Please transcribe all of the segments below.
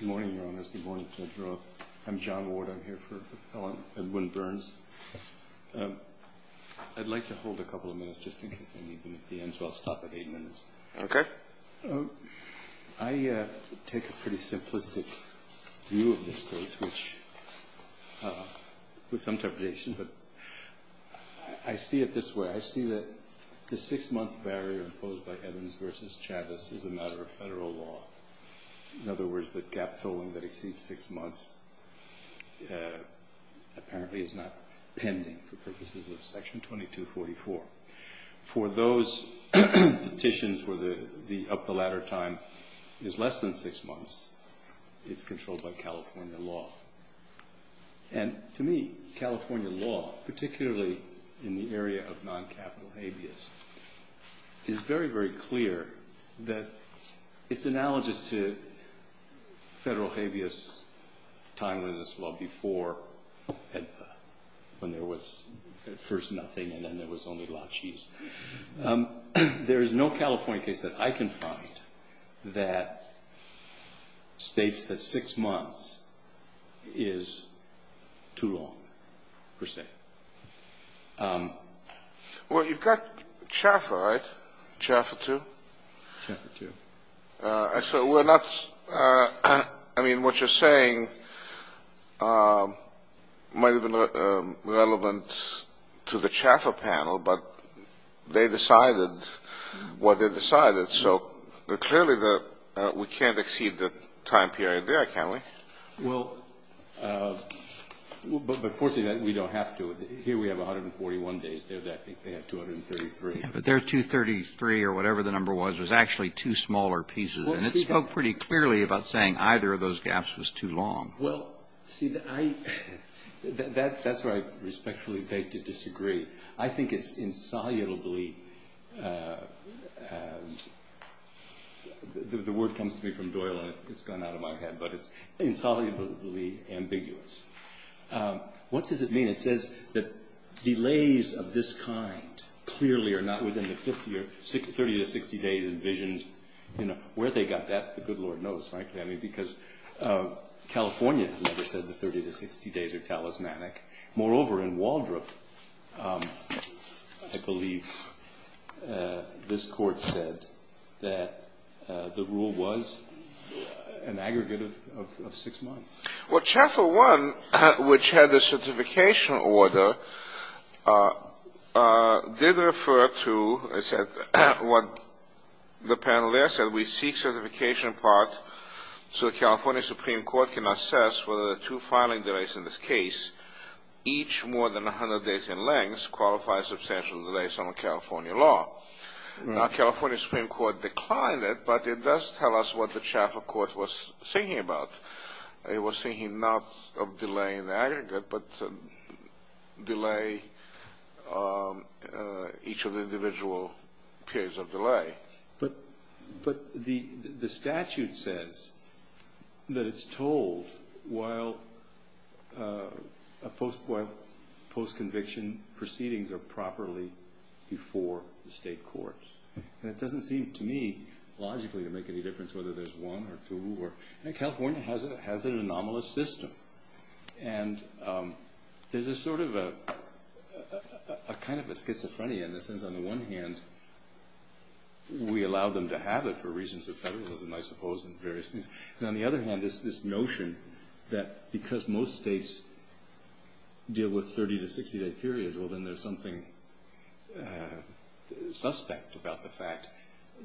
Good morning, Your Honors. I'm John Ward. I'm here for Appellant Edwin Burns. I'd like to hold a couple of minutes just in case I need them at the end, so I'll stop at eight minutes. Okay. I take a pretty simplistic view of this case, with some temptation, but I see it this way. I see that the six-month barrier imposed by Evans v. Chavez is a matter of federal law. In other words, the gap tolling that exceeds six months apparently is not pending for purposes of Section 2244. For those petitions where the up-the-ladder time is less than six months, it's controlled by California law. To me, California law, particularly in the area of non-capital habeas, is very, very clear. It's analogous to federal habeas time limits, well, before when there was, at first, nothing, and then there was only lychees. There is no California case that I can find that states that six months is too long, per se. Well, you've got Chaffer, right? Chaffer II? Chaffer II. So we're not ‑‑ I mean, what you're saying might have been relevant to the Chaffer panel, but they decided what they decided. So clearly we can't exceed the time period there, can we? Well, but, fortunately, we don't have to. Here we have 141 days. They have 233. But their 233, or whatever the number was, was actually two smaller pieces. And it spoke pretty clearly about saying either of those gaps was too long. Well, see, that's where I respectfully beg to disagree. I think it's insolubly ‑‑ the word comes to me from Doyle, and it's gone out of my head, but it's insolubly ambiguous. What does it mean? It says that delays of this kind clearly are not within the 30 to 60 days envisioned. You know, where they got that, the good Lord knows, frankly. I mean, because California has never said the 30 to 60 days are talismanic. Moreover, in Waldrop, I believe this Court said that the rule was an aggregate of six months. Well, Chaffer 1, which had the certification order, did refer to what the panel there said. We seek certification part so the California Supreme Court can assess whether the two filing delays in this case, each more than 100 days in length, qualify substantial delays under California law. Now, California Supreme Court declined it, but it does tell us what the Chaffer Court was thinking about. It was thinking not of delay in the aggregate, but delay each of the individual periods of delay. But the statute says that it's told while postconviction proceedings are properly before the state courts. And it doesn't seem to me logically to make any difference whether there's one or two. And California has an anomalous system. And there's a sort of a kind of a schizophrenia in the sense, on the one hand, we allow them to have it for reasons of federalism, I suppose, and various things. And on the other hand, there's this notion that because most states deal with 30 to 60 day periods, well, then there's something suspect about the fact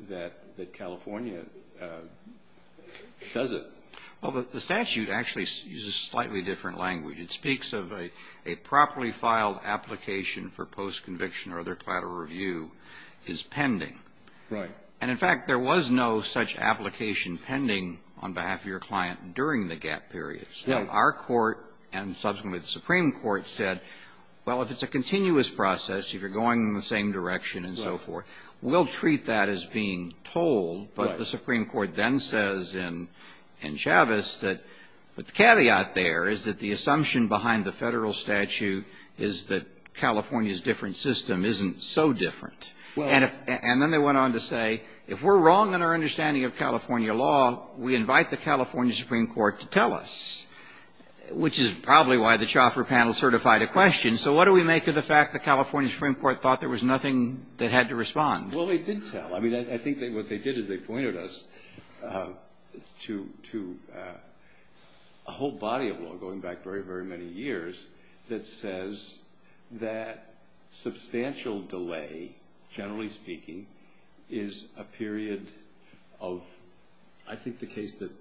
that California does it. Well, the statute actually uses slightly different language. It speaks of a properly filed application for postconviction or other collateral review is pending. Right. And, in fact, there was no such application pending on behalf of your client during the gap periods. Yeah. And subsequently, the Supreme Court said, well, if it's a continuous process, if you're going in the same direction and so forth, we'll treat that as being told. But the Supreme Court then says in Chavez that the caveat there is that the assumption behind the Federal statute is that California's different system isn't so different. And then they went on to say, if we're wrong in our understanding of California law, we invite the California Supreme Court to tell us, which is probably why the Chauffeur Panel certified a question. So what do we make of the fact the California Supreme Court thought there was nothing that had to respond? Well, they did tell. I mean, I think what they did is they pointed us to a whole body of law going back very, very many years that says that substantial delay, generally speaking, is a period of, I think the case that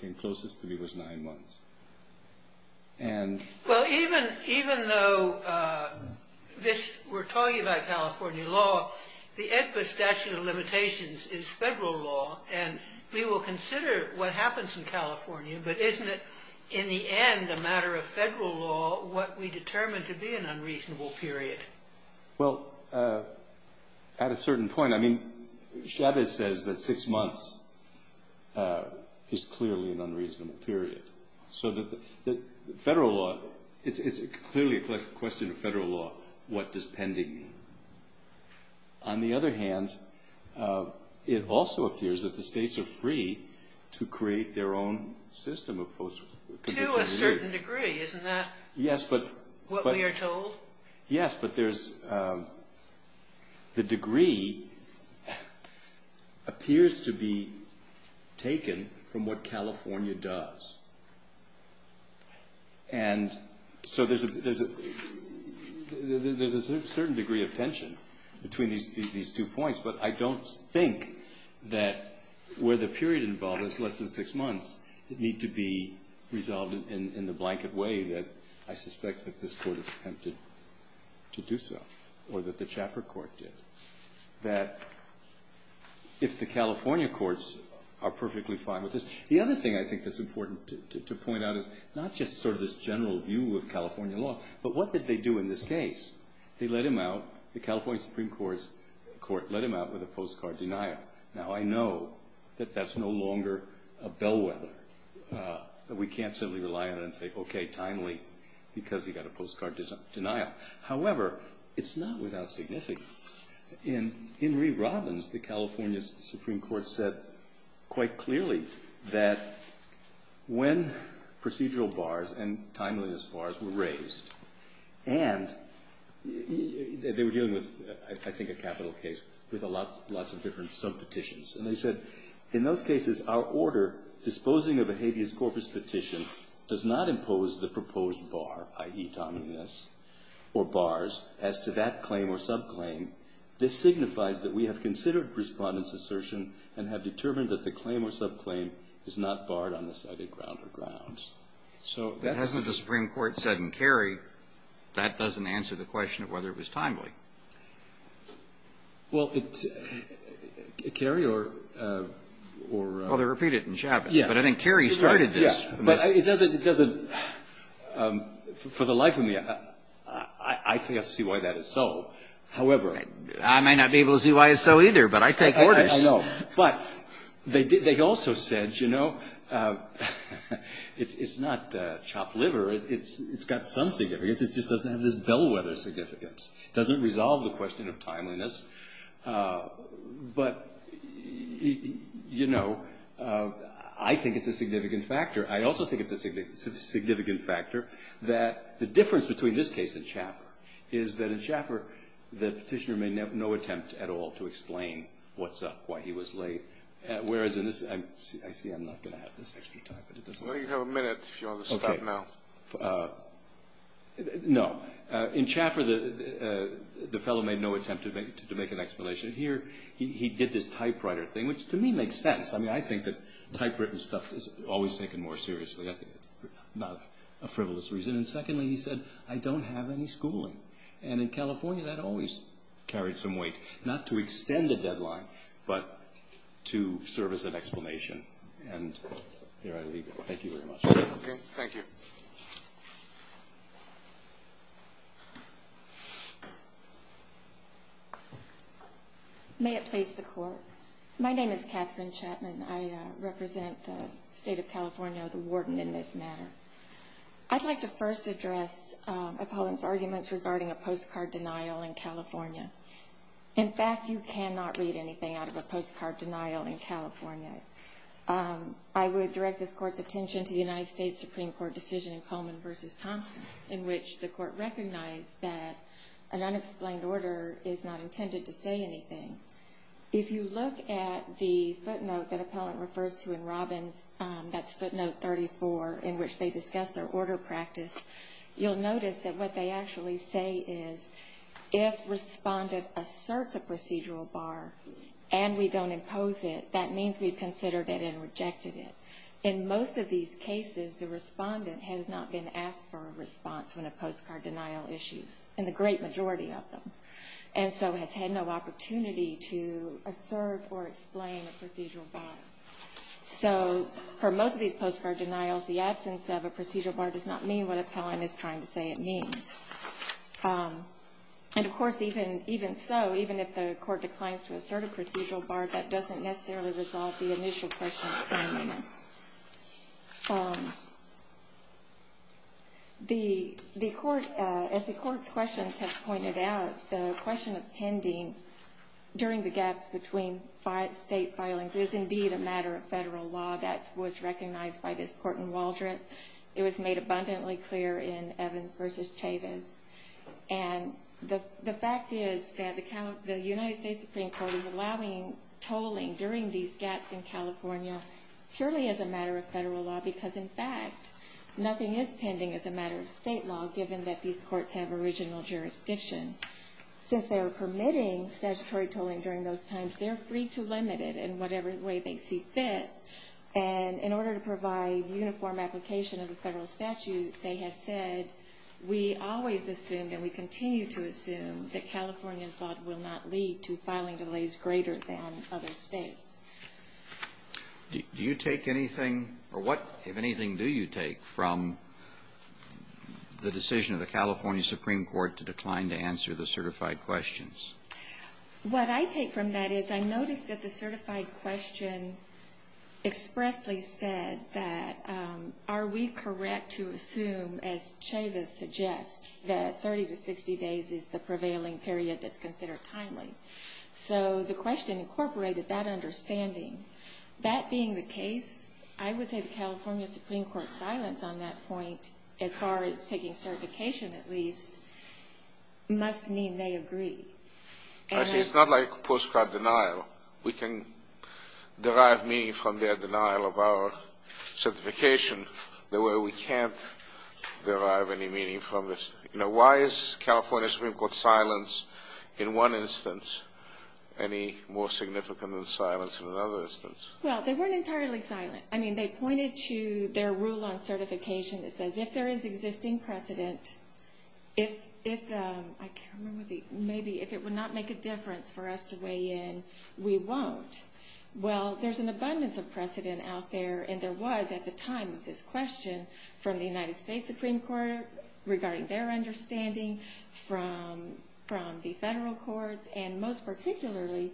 came closest to me was nine months. Well, even though we're talking about California law, the EDPA statute of limitations is Federal law, and we will consider what happens in California. But isn't it, in the end, a matter of Federal law what we determine to be an unreasonable period? Well, at a certain point, I mean, Chavez says that six months is clearly an unreasonable period. So Federal law, it's clearly a question of Federal law, what does pending mean? On the other hand, it also appears that the states are free to create their own system of post-conviction. To a certain degree, isn't that what we are told? Yes, but there's the degree appears to be taken from what California does. And so there's a certain degree of tension between these two points. But I don't think that where the period involved is less than six months, it need to be resolved in the blanket way that I suspect that this Court attempted to do so or that the Chaffer Court did. That if the California courts are perfectly fine with this. The other thing I think that's important to point out is not just sort of this general view of California law, but what did they do in this case? They let him out, the California Supreme Court let him out with a postcard denial. Now, I know that that's no longer a bellwether. We can't simply rely on it and say, okay, timely, because he got a postcard denial. However, it's not without significance. In Reeve Robbins, the California Supreme Court said quite clearly that when procedural bars and timeliness bars were raised, and they were dealing with, I think, a capital case with lots of different subpetitions. And they said, in those cases, our order disposing of a habeas corpus petition does not impose the proposed bar, i.e., timeliness, or bars as to that claim or subclaim. This signifies that we have considered Respondent's assertion and have determined that the claim or subclaim is not barred on the cited ground or grounds. So that's the case. Kennedy. Hasn't the Supreme Court said in Carey, that doesn't answer the question of whether it was timely? Well, it's – Carey or – or – Well, they repeat it in Chaffetz. Yeah. But I think Carey started this. Yeah. But it doesn't – for the life of me, I can't see why that is so. However – I may not be able to see why it's so either, but I take orders. I know. But they also said, you know, it's not chopped liver. It's got some significance. It just doesn't have this bellwether significance. It doesn't resolve the question of timeliness. But, you know, I think it's a significant factor. I also think it's a significant factor that the difference between this case and Chaffer is that in Chaffer, the Petitioner made no attempt at all to explain what's up, why he was late. Whereas in this – I see I'm not going to have this extra time, but it doesn't matter. Well, you have a minute if you want to stop now. Okay. No. In Chaffer, the fellow made no attempt to make an explanation. Here, he did this typewriter thing, which to me makes sense. I mean, I think that typewritten stuff is always taken more seriously. I think it's not a frivolous reason. And secondly, he said, I don't have any schooling. And in California, that always carried some weight, not to extend the deadline, but to serve as an explanation. And there I leave it. Thank you very much. Okay. Thank you. May it please the Court. My name is Katherine Chapman. I represent the State of California, the warden in this matter. I'd like to first address a pollen's arguments regarding a postcard denial in California. In fact, you cannot read anything out of a postcard denial in California. I would direct this Court's attention to the United States Supreme Court decision in Coleman v. Thompson, in which the Court recognized that an unexplained order is not intended to say anything. If you look at the footnote that Appellant refers to in Robbins, that's footnote 34, in which they discuss their order practice, you'll notice that what they actually say is, if respondent asserts a procedural bar and we don't impose it, that means we've considered it and rejected it. In most of these cases, the respondent has not been asked for a response when a postcard denial issues, and the great majority of them. And so has had no opportunity to assert or explain a procedural bar. So for most of these postcard denials, the absence of a procedural bar does not mean what Appellant is trying to say it means. And, of course, even so, even if the Court declines to assert a procedural bar, that doesn't necessarily resolve the initial question. As the Court's questions have pointed out, the question of pending during the gaps between state filings is indeed a matter of federal law. That was recognized by this Court in Waldron. It was made abundantly clear in Evans v. Chavez. And the fact is that the United States Supreme Court is allowing tolling during these gaps in California purely as a matter of federal law because, in fact, nothing is pending as a matter of state law given that these courts have original jurisdiction. Since they are permitting statutory tolling during those times, they're free to limit it in whatever way they see fit. And in order to provide uniform application of the federal statute, they have said, we always assumed and we continue to assume that California's law will not lead to filing delays greater than other states. Do you take anything or what, if anything, do you take from the decision of the California Supreme Court to decline to answer the certified questions? What I take from that is I noticed that the certified question expressly said that are we correct to assume, as Chavez suggests, that 30 to 60 days is the prevailing period that's considered timely? So the question incorporated that understanding. That being the case, I would say the California Supreme Court's silence on that point, as far as taking certification at least, must mean they agree. It's not like prescribed denial. We can derive meaning from their denial of our certification the way we can't derive any meaning from it. Why is California's Supreme Court's silence, in one instance, any more significant than silence in another instance? Well, they weren't entirely silent. I mean, they pointed to their rule on certification that says, if there is existing precedent, maybe if it would not make a difference for us to weigh in, we won't. Well, there's an abundance of precedent out there, and there was at the time of this question from the United States Supreme Court regarding their understanding, from the federal courts, and most particularly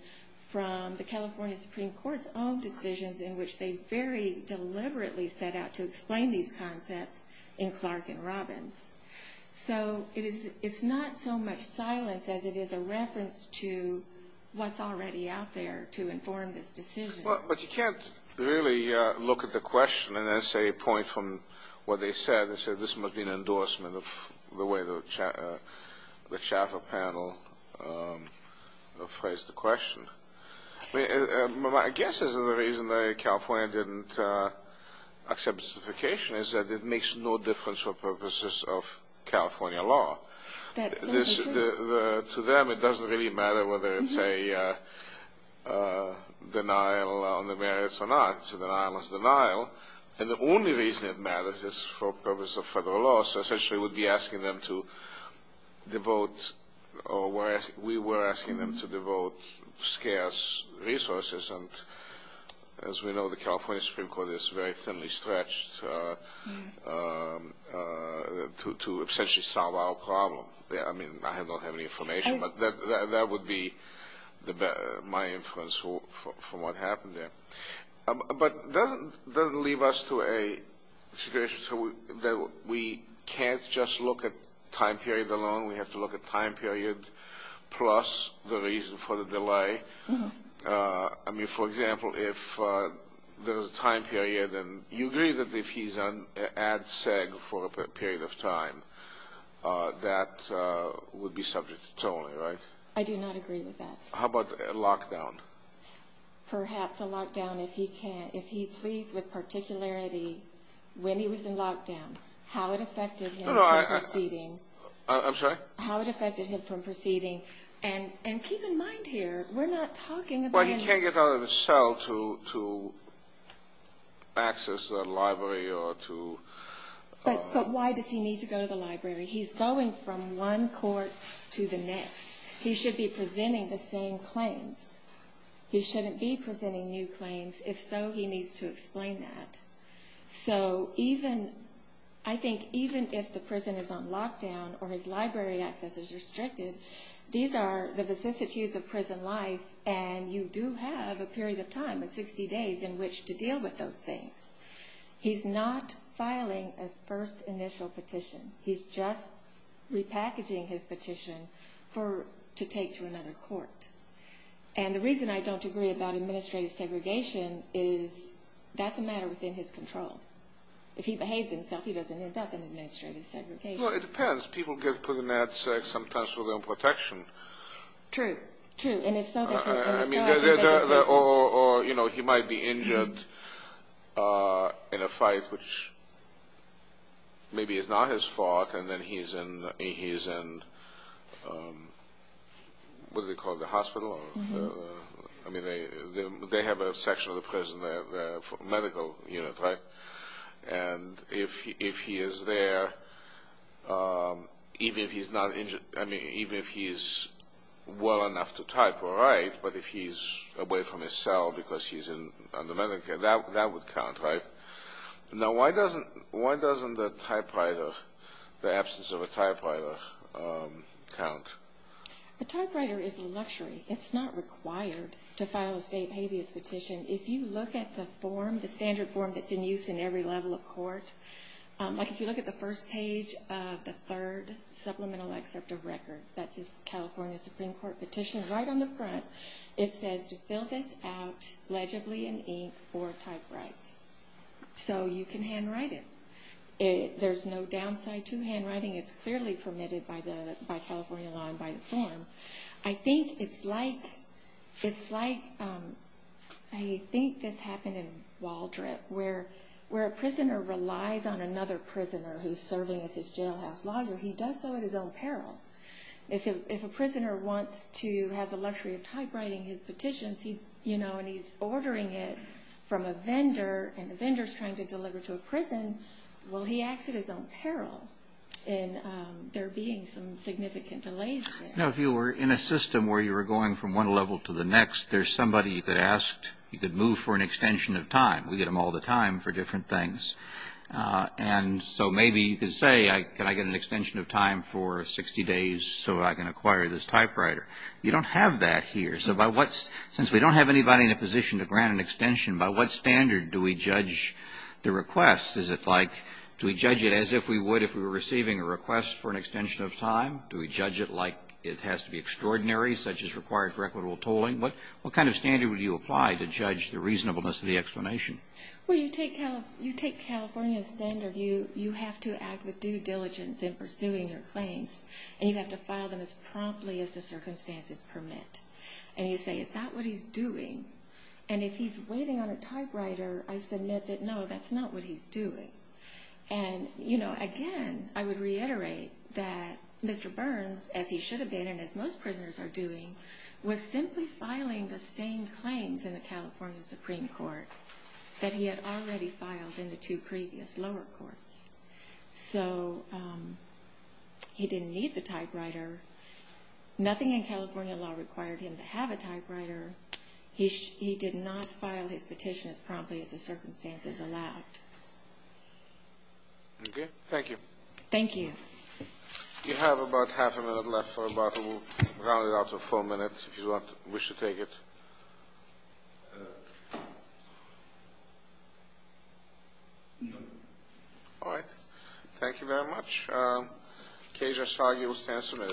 from the California Supreme Court's own decisions in which they very deliberately set out to explain these concepts in Clark and Robbins. So it's not so much silence as it is a reference to what's already out there to inform this decision. Well, but you can't really look at the question and then say a point from what they said and say this must be an endorsement of the way the Chaffer panel phrased the question. My guess is that the reason California didn't accept certification is that it makes no difference for purposes of California law. To them, it doesn't really matter whether it's a denial on the merits or not. It's a denialist denial. And the only reason it matters is for purposes of federal law. So essentially we would be asking them to devote or we were asking them to devote scarce resources. And as we know, the California Supreme Court is very thinly stretched to essentially solve our problem. I mean, I don't have any information, but that would be my inference from what happened there. But it doesn't leave us to a situation that we can't just look at time period alone. We have to look at time period plus the reason for the delay. I mean, for example, if there was a time period and you agree that if he's on ad seg for a period of time, that would be subject to tolling, right? I do not agree with that. How about a lockdown? Perhaps a lockdown if he pleads with particularity when he was in lockdown, how it affected him from proceeding. I'm sorry? How it affected him from proceeding. And keep in mind here, we're not talking about... Well, he can't get out of his cell to access the library or to... But why does he need to go to the library? He's going from one court to the next. He should be presenting the same claims. He shouldn't be presenting new claims. If so, he needs to explain that. So I think even if the person is on lockdown or his library access is restricted, these are the vicissitudes of prison life, and you do have a period of time of 60 days in which to deal with those things. He's not filing a first initial petition. He's just repackaging his petition to take to another court. And the reason I don't agree about administrative segregation is that's a matter within his control. If he behaves himself, he doesn't end up in administrative segregation. Well, it depends. People get put in that sometimes for their own protection. True. True. And if so... Or, you know, he might be injured in a fight which maybe is not his fault, and then he's in, what do they call it, the hospital? I mean, they have a section of the prison, a medical unit, right? And if he is there, even if he's not injured, I mean, even if he's well enough to type or write, but if he's away from his cell because he's in the medical unit, that would count, right? Now, why doesn't the typewriter, the absence of a typewriter, count? A typewriter is a luxury. It's not required to file a state habeas petition. If you look at the form, the standard form that's in use in every level of court, like if you look at the first page of the third supplemental excerpt of record, that's his California Supreme Court petition, right on the front, it says, to fill this out legibly in ink or typewrite. So you can handwrite it. There's no downside to handwriting. It's clearly permitted by California law and by the form. I think it's like, I think this happened in Waldrop, where a prisoner relies on another prisoner who's serving as his jailhouse logger. He does so at his own peril. If a prisoner wants to have the luxury of typewriting his petitions, you know, and he's ordering it from a vendor, and the vendor's trying to deliver it to a prison, well, he acts at his own peril, and there being some significant delays there. You know, if you were in a system where you were going from one level to the next, there's somebody you could ask. You could move for an extension of time. We get them all the time for different things. And so maybe you could say, can I get an extension of time for 60 days so I can acquire this typewriter? You don't have that here. So since we don't have anybody in a position to grant an extension, by what standard do we judge the request? Is it like, do we judge it as if we would if we were receiving a request for an extension of time? Do we judge it like it has to be extraordinary, such as required for equitable tolling? What kind of standard would you apply to judge the reasonableness of the explanation? Well, you take California's standard. You have to act with due diligence in pursuing your claims, and you have to file them as promptly as the circumstances permit. And you say, is that what he's doing? And if he's waiting on a typewriter, I submit that, no, that's not what he's doing. And, you know, again, I would reiterate that Mr. Burns, as he should have been and as most prisoners are doing, was simply filing the same claims in the California Supreme Court that he had already filed in the two previous lower courts. So he didn't need the typewriter. Nothing in California law required him to have a typewriter. He did not file his petition as promptly as the circumstances allowed. Okay. Thank you. Thank you. You have about half a minute left for about a roundabout of four minutes, if you wish to take it. No. All right. Thank you very much. Cajun Sargi will stand submitted.